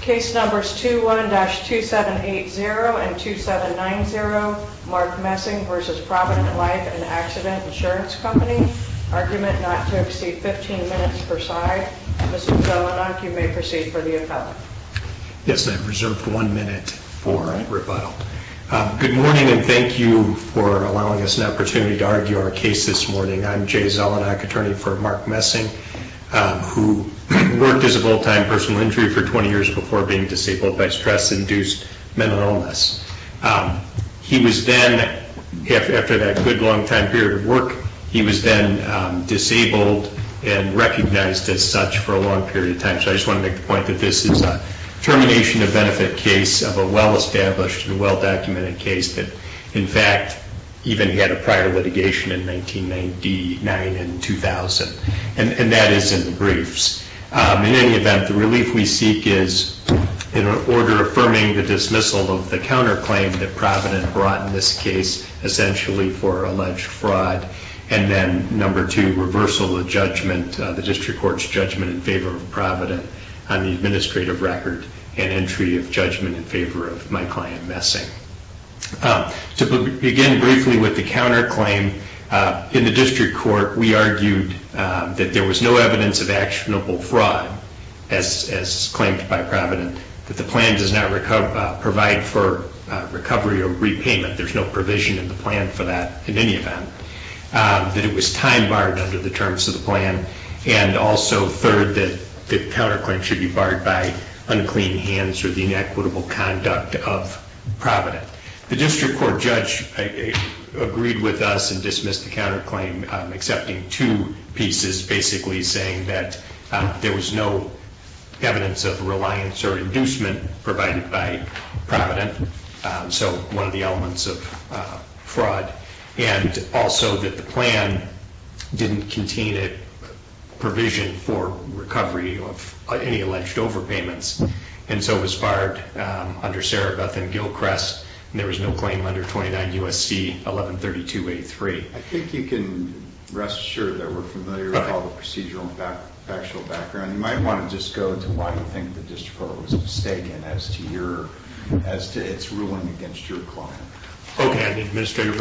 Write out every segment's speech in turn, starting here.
Case Numbers 21-2780 and 2790, Mark Messing v. Provident Life and Accident Insurance Company. Argument not to exceed 15 minutes per side. Mr. Zelenak, you may proceed for the appellate. Yes, I have reserved one minute for rebuttal. Good morning and thank you for allowing us an opportunity to argue our case this morning. I'm Jay Zelenak, attorney for Mark Messing, who worked as a full-time personal injury for 20 years before being disabled by stress-induced mental illness. He was then, after that good long time period of work, he was then disabled and recognized as such for a long period of time. So I just want to make the point that this is a termination of benefit case of a well-established and well-documented case that, in fact, even had a prior litigation in 1999 and 2000, and that is in the briefs. In any event, the relief we seek is in order affirming the dismissal of the counterclaim that Provident brought in this case essentially for alleged fraud, and then number two, reversal of judgment, the district court's judgment in favor of Provident on the administrative record and entry of judgment in favor of my client Messing. To begin briefly with the counterclaim, in the district court we argued that there was no evidence of actionable fraud as claimed by Provident, that the plan does not provide for recovery or repayment, there's no provision in the plan for that in any event, that it was time barred under the terms of the plan, and also, third, that the counterclaim should be barred by unclean hands or the inequitable conduct of Provident. The district court judge agreed with us and dismissed the counterclaim, accepting two pieces, basically saying that there was no evidence of reliance or inducement provided by Provident, so one of the elements of fraud, and also that the plan didn't contain a recovery of any alleged overpayments, and so it was barred under Serebeth and Gilchrest, and there was no claim under 29 U.S.C. 1132-83. I think you can rest assured that we're familiar with all the procedural and factual background. You might want to just go to why you think the district court was mistaken as to its ruling against your client. Okay, on the administrative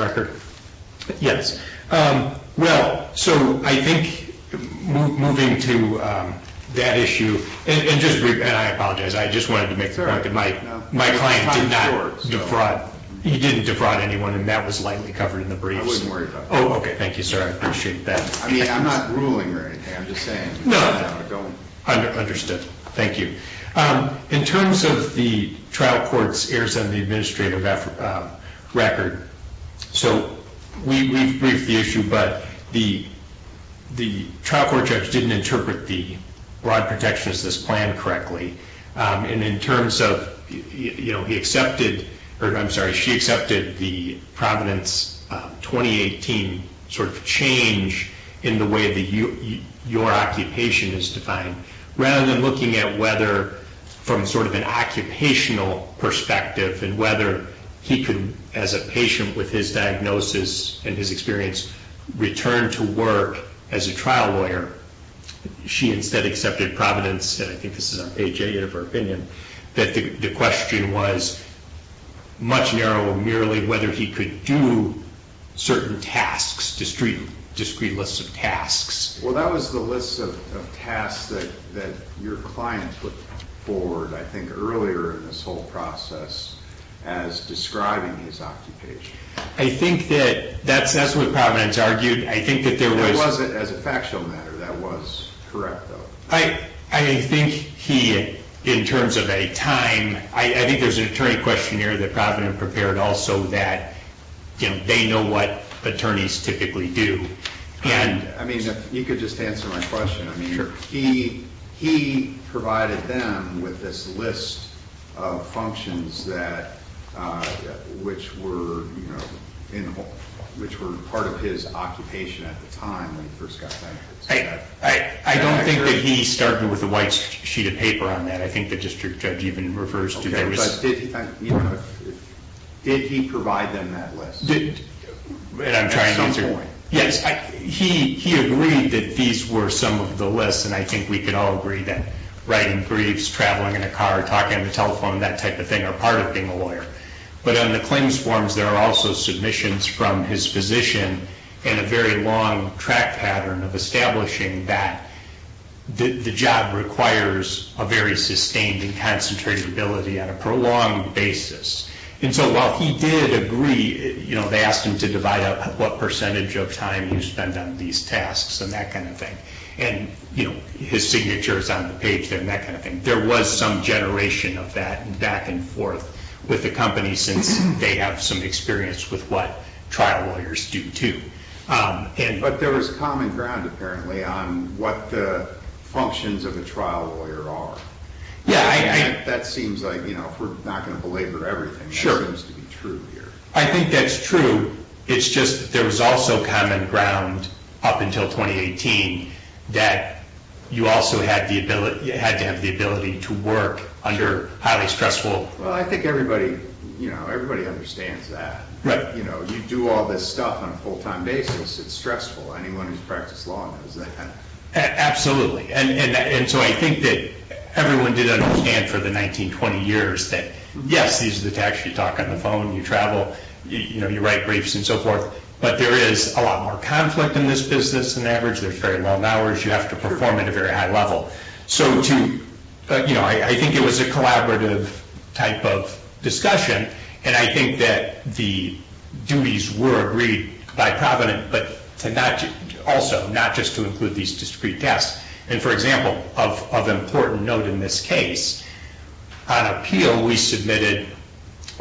issue, and I apologize, I just wanted to make sure, my client did not defraud, he didn't defraud anyone, and that was lightly covered in the briefs. I wasn't worried about it. Oh, okay, thank you, sir, I appreciate that. I mean, I'm not ruling or anything, I'm just saying. No, understood, thank you. In terms of the trial court's heirs on the administrative record, so we've briefed the issue, but the trial court judge didn't interpret the fraud protectionist's plan correctly, and in terms of, you know, he accepted, or I'm sorry, she accepted the Providence 2018 sort of change in the way that your occupation is defined, rather than looking at whether, from sort of an occupational perspective, and whether he could, as a patient with his diagnosis and his experience, return to work as a trial lawyer, she instead accepted Providence, and I think this is an AJA of her opinion, that the question was much narrower, merely whether he could do certain tasks, discrete lists of tasks. Well, that was the list of tasks that your client put forward, I think, earlier in this whole process, as describing his occupation. I think that that's what Providence argued, I think that there was... As a factual matter, that was correct, though. I think he, in terms of a time, I think there's an attorney questionnaire that Providence prepared also, that, you know, they know what attorneys typically do, and... I mean, if you could just answer my question, I mean, he provided them with this list of functions which were, you know, which were part of his occupation at the time, when he first got... I don't think that he started with a white sheet of paper on that, I think the district judge even refers to... But did he provide them that list? And I'm trying to answer... At some point. Yes, he agreed that these were some of the lists, and I think we can all agree that writing briefs, traveling in a car, talking on the telephone, that type of thing, are part of being a lawyer. But on the claims forms, there are also submissions from his physician in a very long track pattern of establishing that the job requires a very sustained and concentrated ability on a prolonged basis. And so while he did agree, you know, they asked him to divide up what percentage of time he would spend on these tasks and that kind of thing. And, you know, his signature is on the page there and that kind of thing. There was some generation of that back and forth with the company, since they have some experience with what trial lawyers do too. But there was common ground, apparently, on what the functions of a trial lawyer are. That seems like, you know, if we're not going to belabor everything, that seems to be true here. I think that's true. It's just there was also common ground up until 2018 that you also had to have the ability to work under highly stressful... Well, I think everybody, you know, everybody understands that. But, you know, you do all this stuff on a full-time basis, it's stressful. Anyone who's practiced law knows that. Absolutely. And so I think that everyone did understand for the 1920 years that, yes, these are the tasks you talk on the phone, you travel, you know, you write briefs and so forth. But there is a lot more conflict in this business than average. There's very long hours, you have to perform at a very high level. So to, you know, I think it was a collaborative type of discussion. And I think that the duties were agreed by Provident, but also not just to these discrete tasks. And for example, of important note in this case, on appeal, we submitted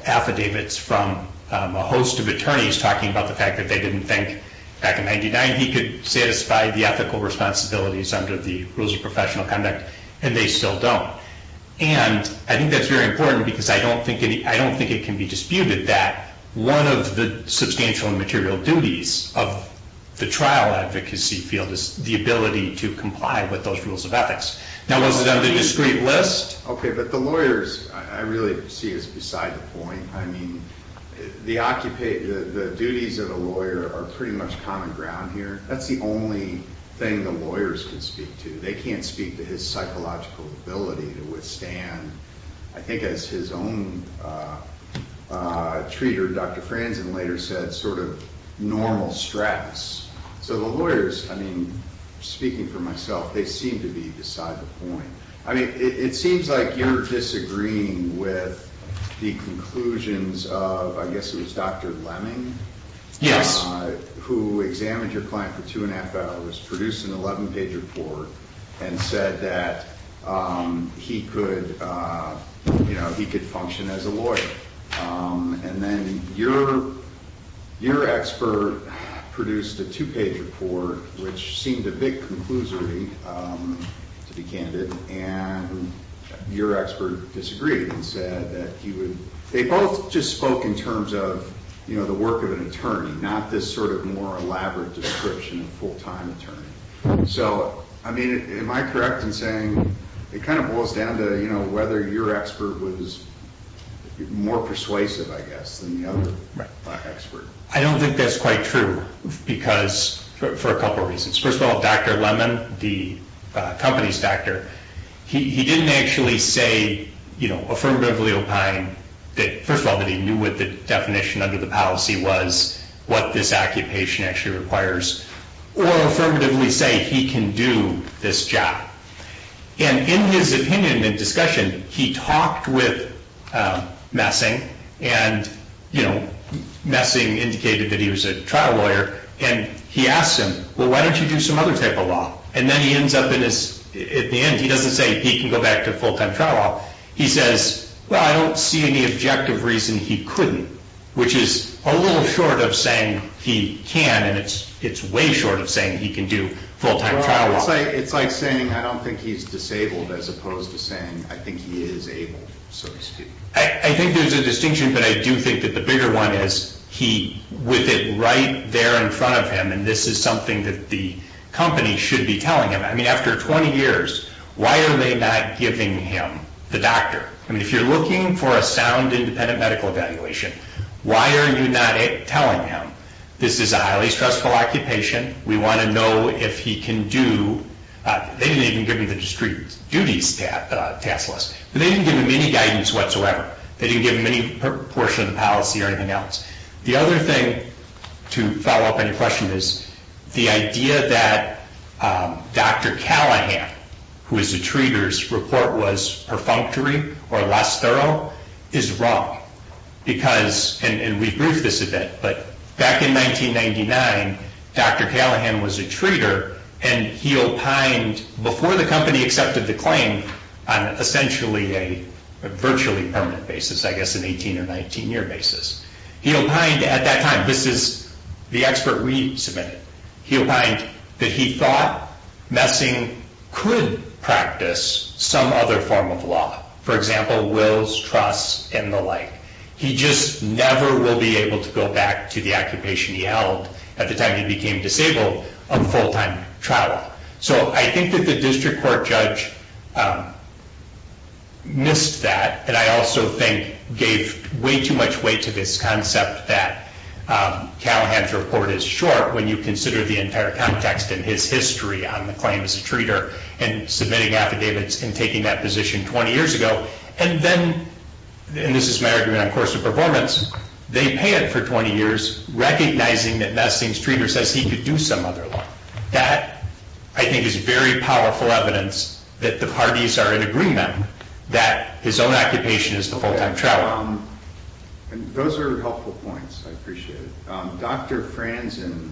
affidavits from a host of attorneys talking about the fact that they didn't think back in 99 he could satisfy the ethical responsibilities under the rules of professional conduct, and they still don't. And I think that's very important because I don't think it can be disputed that one of the to comply with those rules of ethics. Now was it on the discrete list? Okay. But the lawyers, I really see is beside the point. I mean, the occupant, the duties of a lawyer are pretty much common ground here. That's the only thing the lawyers can speak to. They can't speak to his psychological ability to withstand, I think as his own treater, Dr. normal stress. So the lawyers, I mean, speaking for myself, they seem to be beside the point. I mean, it seems like you're disagreeing with the conclusions of, I guess it was Dr. Lemming. Yes. Who examined your client for two and a half hours, produced an 11 page report and said that he could function as a lawyer. And then your expert produced a two page report, which seemed a big conclusory to be candid. And your expert disagreed and said that he would, they both just spoke in terms of the work of an attorney, not this sort of more elaborate description of full-time attorney. So, I mean, am I correct in saying it kind of boils down to, you know, whether your expert was more persuasive, I guess, than the other expert. I don't think that's quite true because for a couple of reasons, first of all, Dr. Lemon, the company's doctor, he didn't actually say, you know, affirmatively opine that first of all, that he knew what the definition under the policy was, what this occupation actually requires, or affirmatively say he can do this job. And in his opinion and discussion, he talked with Messing and, you know, Messing indicated that he was a trial lawyer and he asked him, well, why don't you do some other type of law? And then he ends up in his, at the end, he doesn't say he can go back to full-time trial law. He says, well, I don't see any objective reason he couldn't, which is a little short of saying he can, and it's way short of saying he can do full-time trial law. It's like saying I don't think he's disabled as opposed to saying I think he is able, so to speak. I think there's a distinction, but I do think that the bigger one is he, with it right there in front of him, and this is something that the company should be telling him. I mean, after 20 years, why are they not giving him the doctor? I mean, if you're looking for a sound independent medical evaluation, why are you not telling him this is a highly stressful occupation? We want to know if he can do, they didn't even give him the district duties task list, but they didn't give him any guidance whatsoever. They didn't give him any portion of the policy or anything else. The other thing to follow up on your question is the idea that Dr. Callahan, who is a treater's report was perfunctory or less thorough is wrong because, and we've briefed this a bit, but back in 1999, Dr. Callahan was a treater and he opined before the company accepted the claim on essentially a virtually permanent basis, I guess an 18 or 19 year basis. He opined at that time, this is the expert we submitted. He opined that he thought messing could practice some other form of law, for example, wills, trusts, and the like. He just never will be able to go back to the occupation he held at the time he became disabled of full-time trial law. So I think that the district court judge missed that and I also think gave way too much weight to this concept that Callahan's report is short when you consider the entire context and his history on the claim as a treater and submitting affidavits and taking that position 20 years ago. And then, and this is my argument on course of performance, they pay it for 20 years, recognizing that Messing's treater says he could do some other law. That I think is very powerful evidence that the parties are in agreement that his own occupation is the full-time trial law. And those are helpful points. I appreciate it. Dr. Franzen,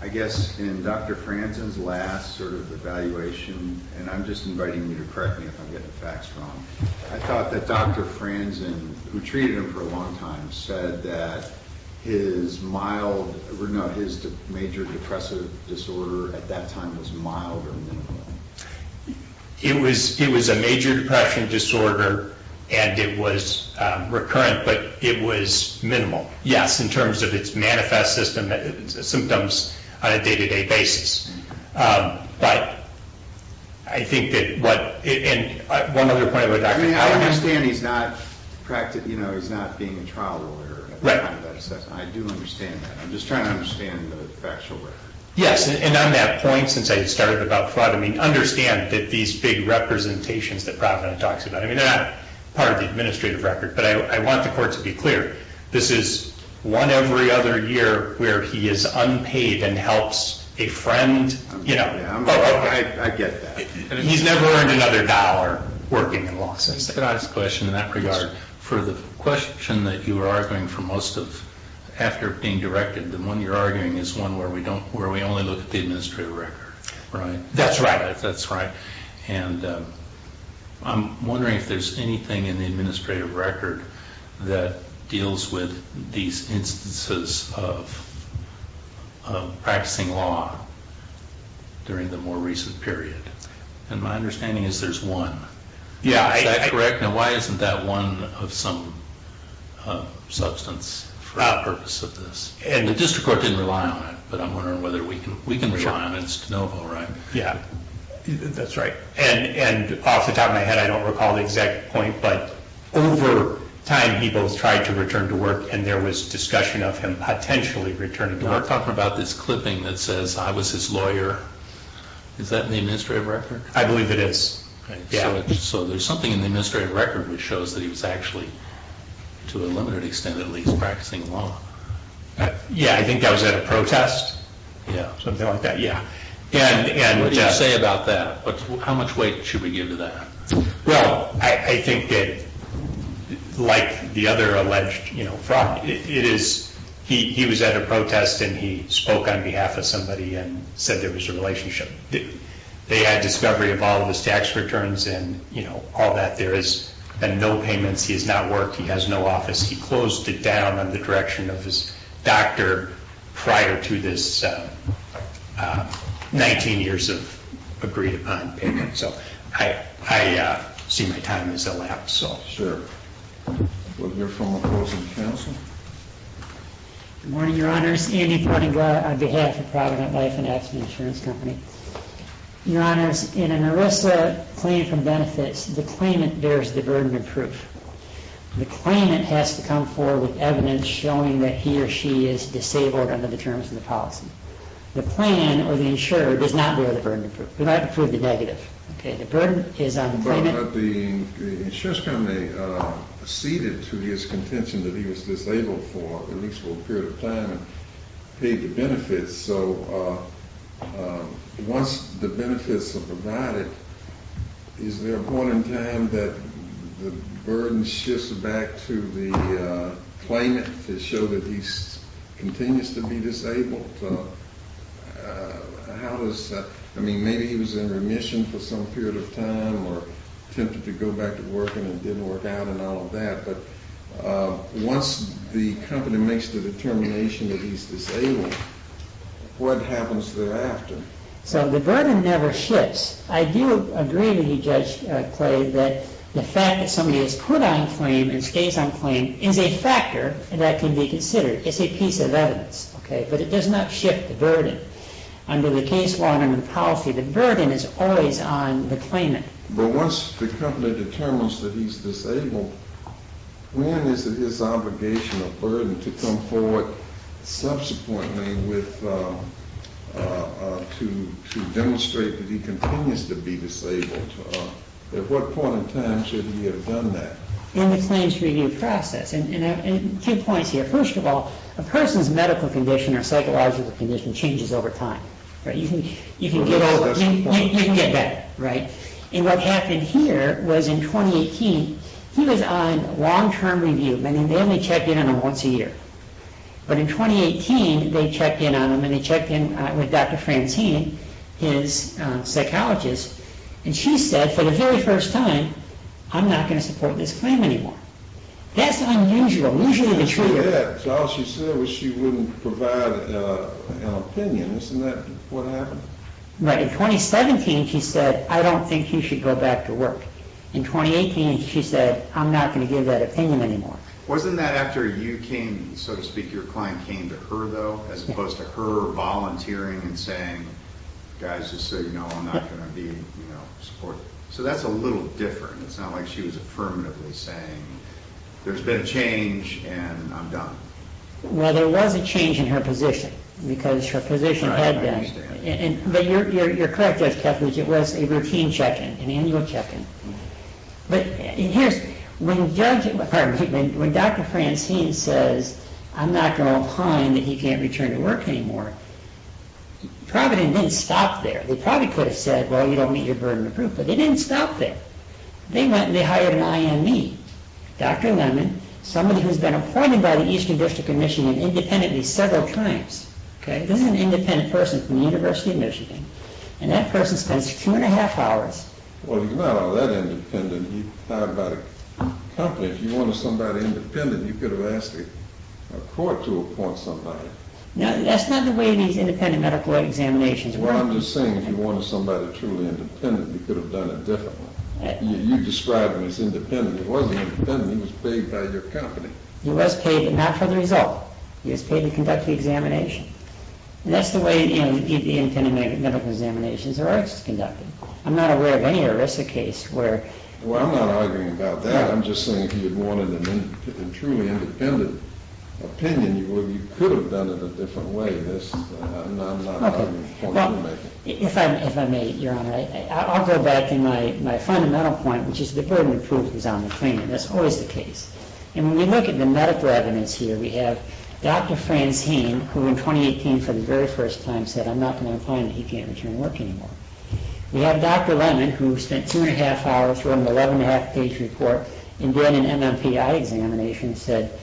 I guess in Dr. Franzen's last sort of evaluation, and I'm just inviting you to correct me if I'm getting the facts wrong. I thought that Dr. Franzen, who treated him for a long time, said that his mild, or no, his major depressive disorder at that time was mild or minimal. It was a major depression disorder and it was recurrent, but it was minimal. Yes, in terms of its manifest symptoms on a day-to-day basis. But I think that what, and one other point about Dr. Franzen. I understand he's not being a trial lawyer. I do understand that. I'm just trying to understand the factual record. Yes, and on that point, since I started about fraud, I mean, understand that these big representations that Provident talks about, I mean, they're not part of the administrative record, but I want the court to be clear. This is one every other year where he is unpaid and helps a friend, you know. I get that. He's never earned another dollar working in law. Can I ask a question in that regard? For the question that you were arguing for most of, after being directed, the one you're arguing is one where we don't, where we only look at the administrative record, right? That's right. That's right, and I'm wondering if there's anything in the administrative record that deals with these instances of practicing law during the more recent period, and my understanding is there's one. Yeah. Is that correct? Now, why isn't that one of some substance for our purpose of this? The district court didn't rely on it, but I'm wondering whether we can rely on it. It's de novo, right? Yeah, that's right, and off the top of my head, I don't recall the exact point, but over time, he both tried to return to work, and there was discussion of him potentially returning to work. We're talking about this clipping that says, I was his lawyer. Is that in the administrative record? I believe it is, yeah. So there's something in the administrative record which shows that he was actually, to a limited extent at least, practicing law. Yeah, I think that was at a protest, something like that, yeah. What do you say about that? How much weight should we give to that? Well, I think that, like the other alleged fraud, it is, he was at a protest, and he spoke on behalf of somebody and said there was a relationship. They had discovery of all of his tax returns and, you know, all that. There has been no payments. He has not worked. He has no office. He closed it down on the direction of his doctor prior to this 19 years of agreed upon payment. So I see my time has elapsed, so. Sure. We'll hear from the closing counsel. Good morning, your honors. Andy Ponengla on behalf of Provident Life and Aspen Insurance Company. Your honors, in an ERISA claim from benefits, the claimant bears the burden of proof. The claimant has to come forward with evidence showing that he or she is disabled under the terms of the policy. The plan or the insurer does not bear the burden of proof. We're not to prove the negative. Okay, the burden is on the claimant. But the insurance company acceded to his contention that he was disabled for at least a little period of time and paid the once the benefits are provided, is there a point in time that the burden shifts back to the claimant to show that he continues to be disabled? How does that, I mean, maybe he was in remission for some period of time or tempted to go back to working and didn't work out and all of that, but once the company makes the determination that he's disabled, what happens thereafter? So the burden never shifts. I do agree with you, Judge Clay, that the fact that somebody is put on claim and stays on claim is a factor that can be considered. It's a piece of evidence, okay, but it does not shift the burden. Under the case law and under the policy, the burden is always on the claimant. But once the company determines that he's disabled, when is it his obligation or burden to come forward subsequently to demonstrate that he continues to be disabled? At what point in time should he have done that? In the claims review process, and two points here. First of all, a person's medical condition or psychological condition changes over time, right? You can get that, right? And what happened here was in 2018, he was on long-term review, and they only checked in on him once a year. But in 2018, they checked in on him and they checked in with Dr. Francine, his psychologist, and she said for the very first time, I'm not going to support this claim anymore. That's unusual, usually the truth. Yeah, so all she said was she wouldn't provide an opinion. Isn't that what happened? Right. In 2017, she said, I don't think you should go back to work. In 2018, she said, I'm not going to give that opinion anymore. Wasn't that after you came, so to speak, your client came to her, though, as opposed to her volunteering and saying, guys, just so you know, I'm not going to be, you know, supportive. So that's a little different. It's not like she was affirmatively saying, there's been a change, and I'm done. Well, there was a change in her position, because her position had been, but you're correct, Judge Kethledge, it was a routine check-in, an annual check-in. But when Dr. Francine says, I'm not going to opine that he can't return to work anymore, probably didn't stop there. They probably could have said, well, you don't meet your burden of proof, but they didn't stop there. They went and they hired an IME, Dr. Lemon, somebody who's been appointed by the Eastern District Commission and independently several times. This is an independent person from the University of Michigan, and that person spends two and a half hours. Well, he's not all that independent. He hired by the company. If you wanted somebody independent, you could have asked a court to appoint somebody. That's not the way these independent medical examinations work. Well, I'm just saying, if you wanted somebody truly independent, you could have done it differently. You described him as independent. He wasn't independent. He was paid by your company. He was paid, but not for the result. He was paid to conduct the examination. That's the way independent medical examinations are conducted. I'm not aware of any ERISA case where— Well, I'm not arguing about that. I'm just saying, if you wanted a truly independent opinion, you could have done it a different way. I'm not arguing for the rulemaking. If I may, Your Honor, I'll go back to my fundamental point, which is the burden of That's always the case. When we look at the medical evidence here, we have Dr. Franz Hain, who in 2018, for the very first time, said, I'm not going to find that he can't return to work anymore. We have Dr. Lemon, who spent two and a half hours, wrote an 11 and a half page report, and did an MMPI examination, said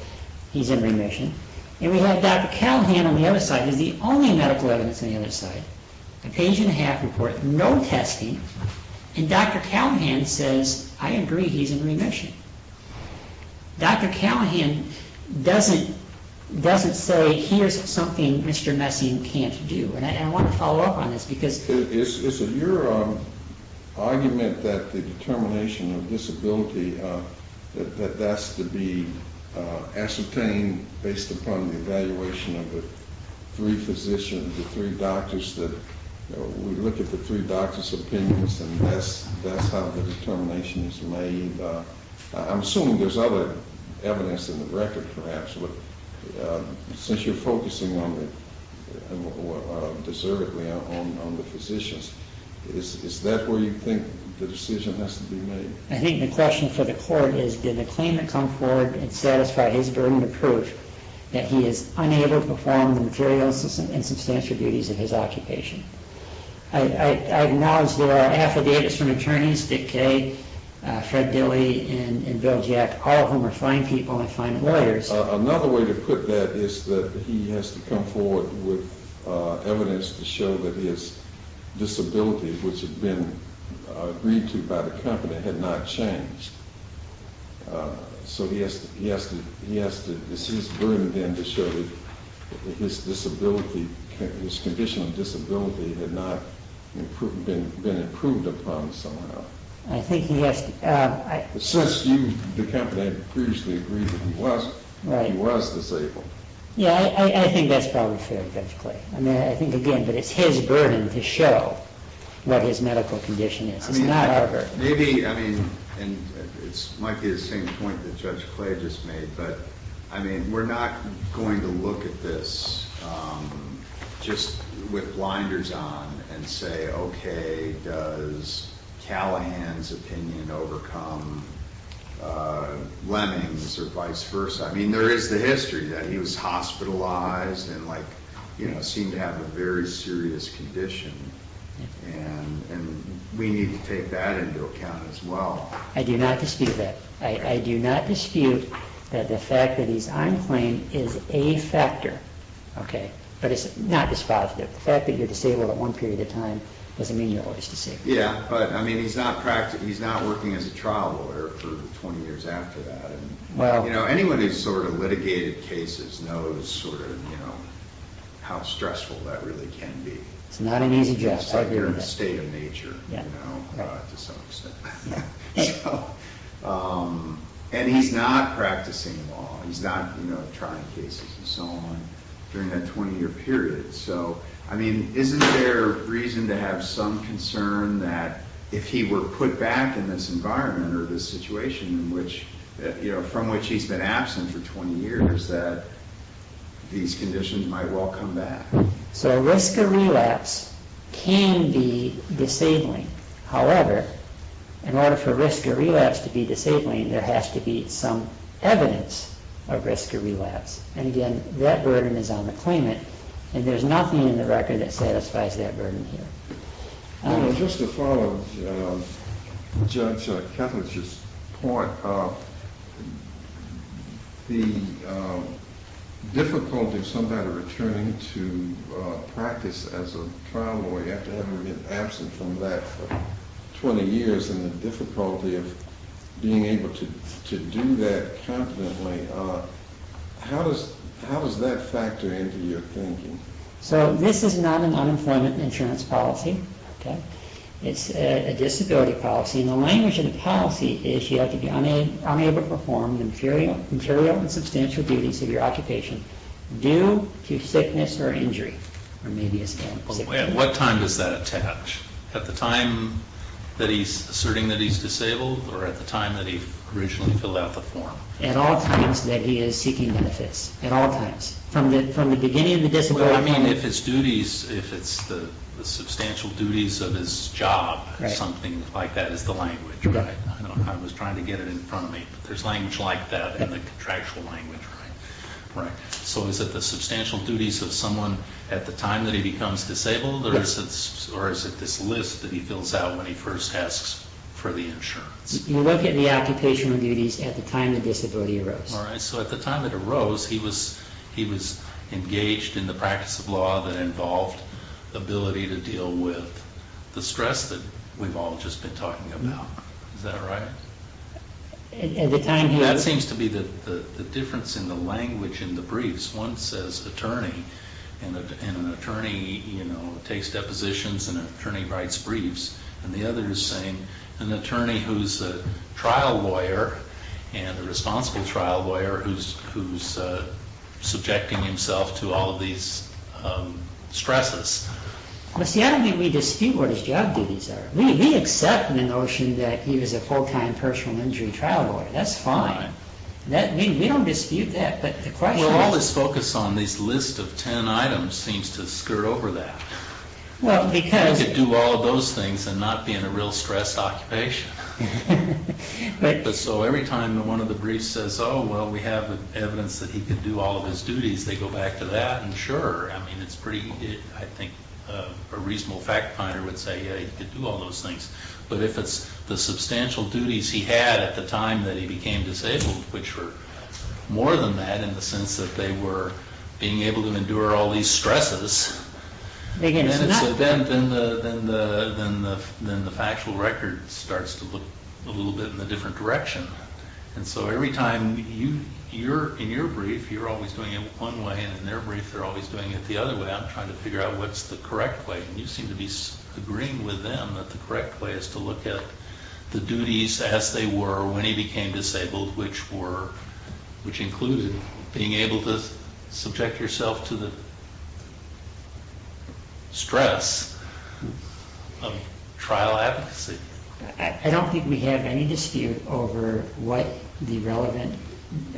he's in remission. And we have Dr. Callahan on the other side, who's the only medical evidence on the other side. A page and a half report, no testing. And Dr. Callahan says, I agree, he's in remission. Dr. Callahan doesn't say, here's something Mr. Messiaen can't do. And I want to follow up on this, because— Is it your argument that the determination of disability, that that's to be ascertained based upon the evaluation of the three physicians, the three doctors, that we look at the three physicians, and that's how the determination is made? I'm assuming there's other evidence in the record, perhaps. But since you're focusing on the—deservedly on the physicians, is that where you think the decision has to be made? I think the question for the court is, did the claimant come forward and satisfy his burden of proof that he is unable to perform the material and substantial duties of his occupation? I acknowledge there are affidavits from attorneys, Dick Kaye, Fred Dilley, and Bill Jack, all of whom are fine people and fine lawyers. Another way to put that is that he has to come forward with evidence to show that his disability, which had been agreed to by the company, had not changed. So he has to—it's his burden then to show that his disability, his condition of disability, had not been improved upon somehow. I think he has to— Since you, the company, had previously agreed that he was disabled. Yeah, I think that's probably fair, Judge Clay. I mean, I think, again, that it's his burden to show what his medical condition is. It's not our burden. Maybe, I mean, and it might be the same point that Judge Clay just made, but, I mean, we're not going to look at this just with blinders on and say, okay, does Callahan's opinion overcome Leming's or vice versa? I mean, there is the history that he was hospitalized and, like, you know, seemed to have a very I do not dispute that. I do not dispute that the fact that he's on the plane is a factor, okay, but it's not dispositive. The fact that you're disabled at one period of time doesn't mean you're always disabled. Yeah, but, I mean, he's not working as a trial lawyer for 20 years after that. And, you know, anyone who's sort of litigated cases knows sort of, you know, how stressful that really can be. It's not an easy job. It's like you're in a state of nature, you know, to some extent. And he's not practicing law. He's not, you know, trying cases and so on during that 20-year period. So, I mean, isn't there reason to have some concern that if he were put back in this environment or this situation in which, you know, from which he's been absent for 20 years, that these conditions might well come back? So risk of relapse can be disabling. However, in order for risk of relapse to be disabling, there has to be some evidence of risk of relapse. And, again, that burden is on the claimant. And there's nothing in the record that satisfies that burden here. Just to follow Judge Ketledge's point, the difficulty of somebody returning to practice as a trial lawyer after having been absent from that for 20 years and the difficulty of being able to do that competently, how does that factor into your thinking? So this is not an unemployment insurance policy, okay? It's a disability policy. And the language of the policy is you have to be unable to perform the material and substantial duties of your occupation due to sickness or injury, or maybe a skin disease. At what time does that attach? At the time that he's asserting that he's disabled or at the time that he originally filled out the form? At all times that he is seeking benefits, at all times. From the beginning of the disability? I mean, if it's duties, if it's the substantial duties of his job or something like that is the language, right? I don't know how I was trying to get it in front of me, but there's language like that in the contractual language, right? Right. So is it the substantial duties of someone at the time that he becomes disabled or is it this list that he fills out when he first asks for the insurance? You look at the occupational duties at the time the disability arose. All right. So at the time it arose, he was engaged in the practice of law that involved the ability to deal with the stress that we've all just been talking about. Is that right? That seems to be the difference in the language in the briefs. One says attorney, and an attorney takes depositions and an attorney writes briefs, and the other is saying an attorney who's a trial lawyer and a responsible trial lawyer who's subjecting himself to all of these stresses. But see, I don't think we dispute what his job duties are. We accept the notion that he was a full-time personal injury trial lawyer. That's fine. All right. We don't dispute that, but the question is- Well, all this focus on this list of 10 items seems to skirt over that. Well, because- And not being a real stress occupation. So every time one of the briefs says, oh, well, we have evidence that he could do all of his duties, they go back to that. And sure, I mean, it's pretty, I think a reasonable fact finder would say, yeah, he could do all those things. But if it's the substantial duties he had at the time that he became disabled, which were more than that in the sense that they were being able to endure all these stresses- Then the factual record starts to look a little bit in a different direction. And so every time, in your brief, you're always doing it one way, and in their brief, they're always doing it the other way. I'm trying to figure out what's the correct way. And you seem to be agreeing with them that the correct way is to look at the duties as they were when he became disabled, which included being able to subject yourself to the stress of trial advocacy. I don't think we have any dispute over what the relevant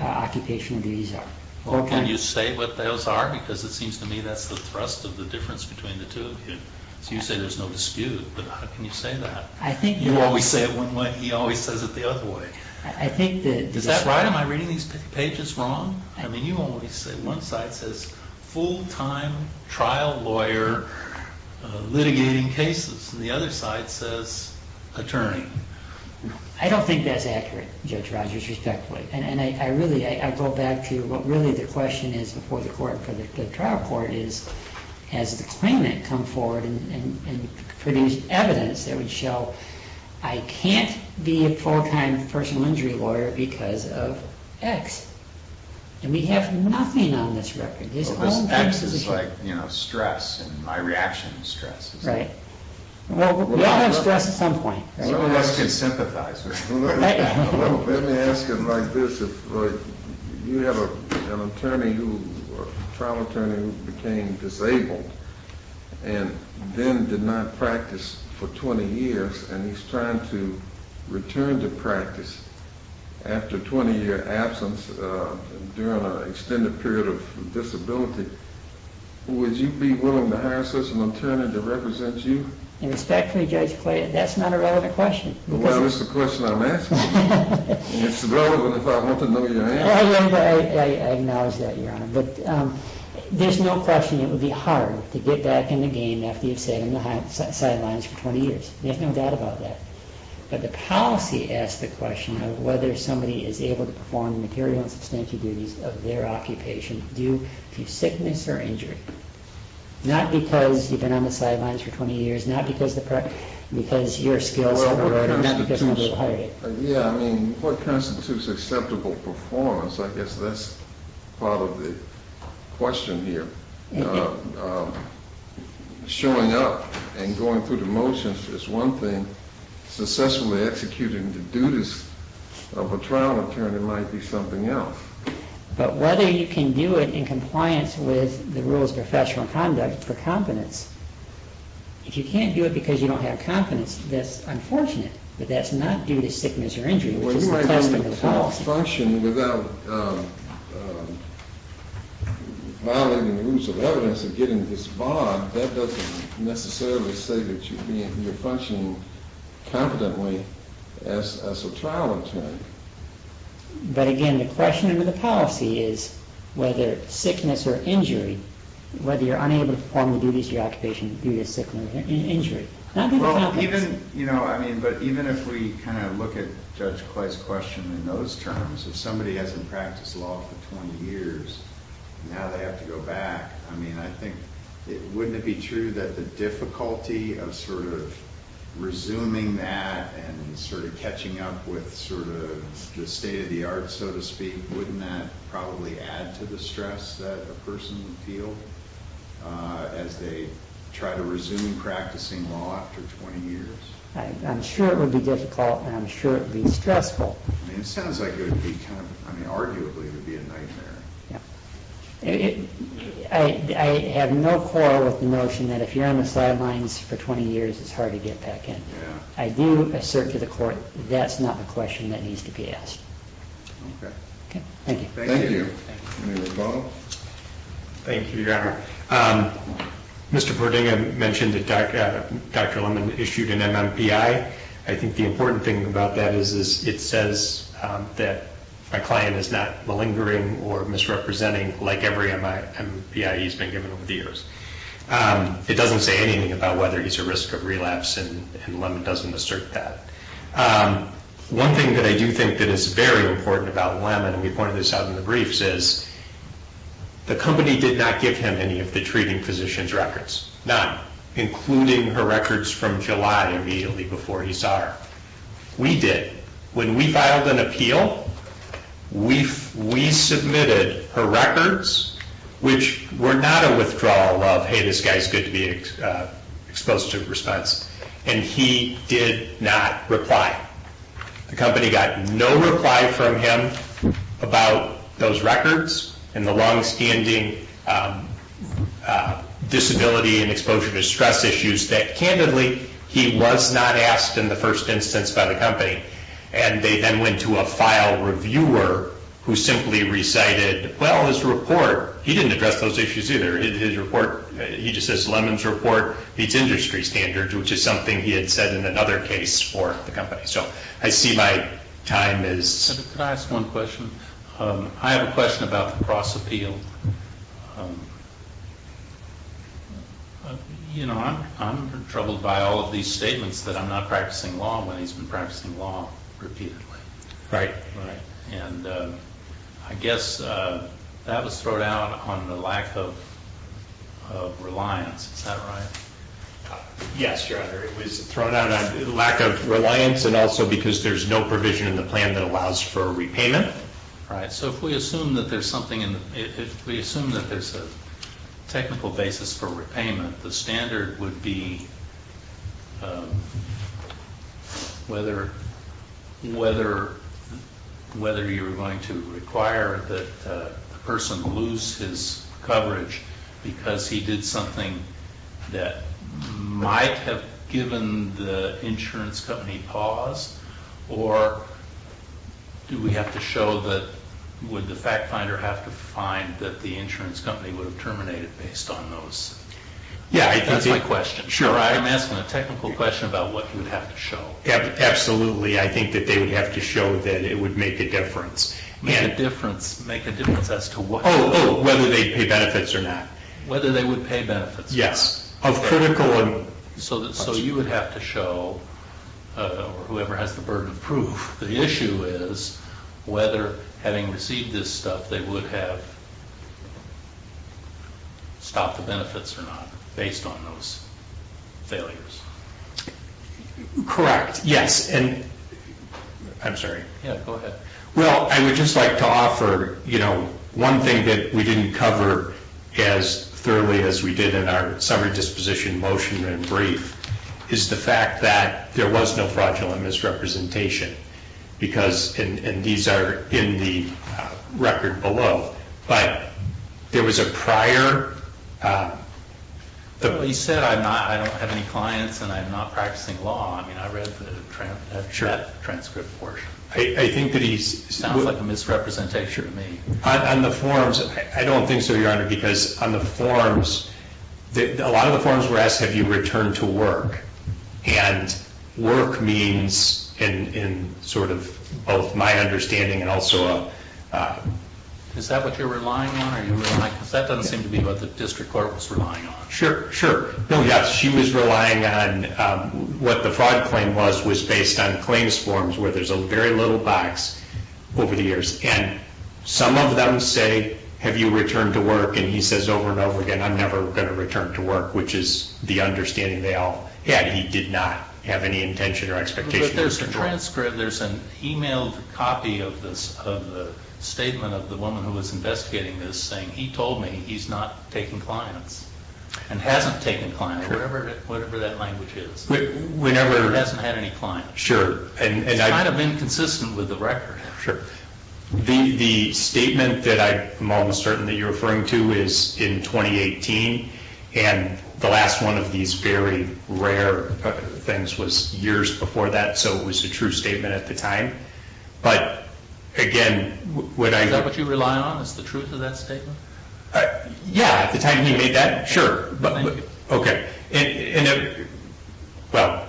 occupation of these are. Well, can you say what those are? Because it seems to me that's the thrust of the difference between the two of you. So you say there's no dispute, but how can you say that? I think- You always say it one way, he always says it the other way. I think that- Is that right? Am I reading these pages wrong? I mean, you always say one side says full-time trial lawyer litigating cases, and the other side says attorney. I don't think that's accurate, Judge Rogers, respectfully. And I really, I go back to what really the question is before the court for the trial court is, has the claimant come forward and produced evidence that would show I can't be a full-time personal injury lawyer because of X? And we have nothing on this record. This X is like, you know, stress and my reaction to stress. Right. Well, we all have stress at some point. Some of us can sympathize with you. Well, let me ask it like this, if you have an attorney who, a trial attorney who became disabled and then did not practice for 20 years, and he's trying to return to practice after a 20-year absence during an extended period of disability, would you be willing to hire such an attorney to represent you? Respectfully, Judge Clay, that's not a relevant question. Well, it's the question I'm asking. It's relevant if I want to know your answer. Well, I acknowledge that, Your Honor. But there's no question it would be hard to get back in the game after you've sat on the sidelines for 20 years. There's no doubt about that. But the policy asks the question of whether somebody is able to perform the material and substantive duties of their occupation due to sickness or injury. Not because you've been on the sidelines for 20 years, not because your skills have eroded, not because nobody hired you. Yeah. I mean, what constitutes acceptable performance? I guess that's part of the question here. Yeah. Showing up and going through the motions is one thing. Successfully executing the duties of a trial attorney might be something else. But whether you can do it in compliance with the rules of professional conduct for competence. If you can't do it because you don't have competence, that's unfortunate. But that's not due to sickness or injury, which is the question of the policy. Functioning without violating the rules of evidence and getting this bond, that doesn't necessarily say that you're functioning competently as a trial attorney. But again, the question of the policy is whether sickness or injury, whether you're unable to perform the duties of your occupation due to sickness or injury. Well, even, you know, I mean, but even if we kind of look at Judge Clay's question in those terms, if somebody hasn't practiced law for 20 years, now they have to go back. I mean, I think, wouldn't it be true that the difficulty of sort of resuming that and sort of catching up with sort of the state of the art, so to speak, wouldn't that probably add to the stress that a person would feel as they try to resume practicing law after 20 years? I'm sure it would be difficult and I'm sure it would be stressful. I mean, it sounds like it would be kind of, I mean, arguably it would be a nightmare. Yeah, I have no quarrel with the notion that if you're on the sidelines for 20 years, it's hard to get back in. I do assert to the court that's not the question that needs to be asked. Okay. Okay, thank you. Thank you. Any other follow-up? Thank you, Your Honor. Mr. Bordinga mentioned that Dr. Lemon issued an MMPI. I think the important thing about that is it says that my client is not malingering or misrepresenting like every MMPI he's been given over the years. It doesn't say anything about whether he's a risk of relapse and Lemon doesn't assert that. One thing that I do think that is very important about Lemon, and we pointed this out in the briefs, is the company did not give him any of the treating physician's records, not including her records from July immediately before he saw her. We did. When we filed an appeal, we submitted her records, which were not a withdrawal of, hey, this guy's good to be exposed to response, and he did not reply. The company got no reply from him about those records and the longstanding disability and exposure to stress issues that, candidly, he was not asked in the first instance by the company. And they then went to a file reviewer who simply recited, well, his report. He didn't address those issues either. He just says Lemon's report meets industry standards, which is something he had said in another case for the company. So I see my time is- Can I ask one question? I have a question about the cross appeal. You know, I'm troubled by all of these statements that I'm not practicing law when he's been practicing law repeatedly. Right, right. And I guess that was thrown out on the lack of reliance. Is that right? Yes, Your Honor. It was thrown out on lack of reliance and also because there's no provision in the plan that allows for repayment. Right. So if we assume that there's something in, if we assume that there's a technical basis for repayment, the standard would be whether you're going to require that the person lose his coverage because he did something that might have given the insurance company pause or do we have to show that, would the fact finder have to find that the insurance company would have terminated based on those? Yeah, I think- That's my question. Sure. I'm asking a technical question about what you would have to show. Absolutely. I think that they would have to show that it would make a difference. Make a difference. Make a difference as to what- Whether they pay benefits or not. Whether they would pay benefits. Yes. Of critical and- So you would have to show, whoever has the burden of proof, the issue is whether having received this stuff, they would have stopped the benefits or not based on those failures. Correct. Yes. I'm sorry. Yeah, go ahead. Well, I would just like to offer, one thing that we didn't cover as thoroughly as we did in our summary disposition motion and brief is the fact that there was no fraudulent misrepresentation because, and these are in the record below, but there was a prior- He said, I don't have any clients and I'm not practicing law. I mean, I read the transcript portion. I think that he's- Sounds like a misrepresentation to me. On the forms, I don't think so, Your Honor, because on the forms, a lot of the forms were asked, have you returned to work? And work means, in sort of both my understanding and also- Is that what you're relying on? Are you relying, because that doesn't seem to be what the district court was relying on. Sure. Sure. No, yes. She was relying on what the fraud claim was, was based on claims forms where there's a very little box over the years. And some of them say, have you returned to work? And he says over and over again, I'm never going to return to work, which is the understanding they all had. He did not have any intention or expectation- But there's a transcript. There's an emailed copy of the statement of the woman who was investigating this saying, he told me he's not taking clients and hasn't taken clients, whatever that language is. We never- Hasn't had any clients. Sure. It's kind of inconsistent with the record. Sure. The statement that I'm almost certain that you're referring to is in 2018, and the last one of these very rare things was years before that, so it was a true statement at the time. But again, when I- Is that what you rely on, is the truth of that statement? Yeah, at the time he made that? Sure. Okay. And well,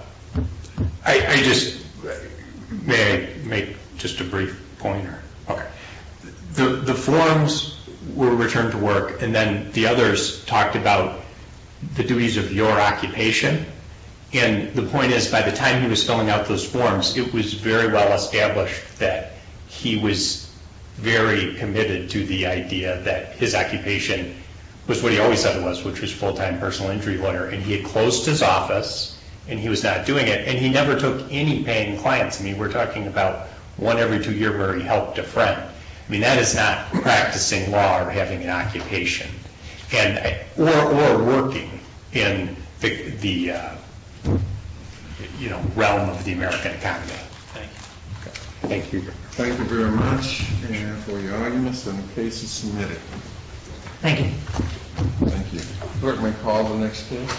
I just, may I make just a brief pointer? Okay. The forms were returned to work, and then the others talked about the duties of your occupation. And the point is, by the time he was filling out those forms, it was very well established that he was very committed to the idea that his occupation was what he always said it was, and he had closed his office, and he was not doing it, and he never took any paying clients. I mean, we're talking about one every two years where he helped a friend. I mean, that is not practicing law or having an occupation, or working in the realm of the American economy. Thank you. Thank you. Thank you very much for your arguments, and the case is submitted. Thank you. Thank you. Bert may call the next case.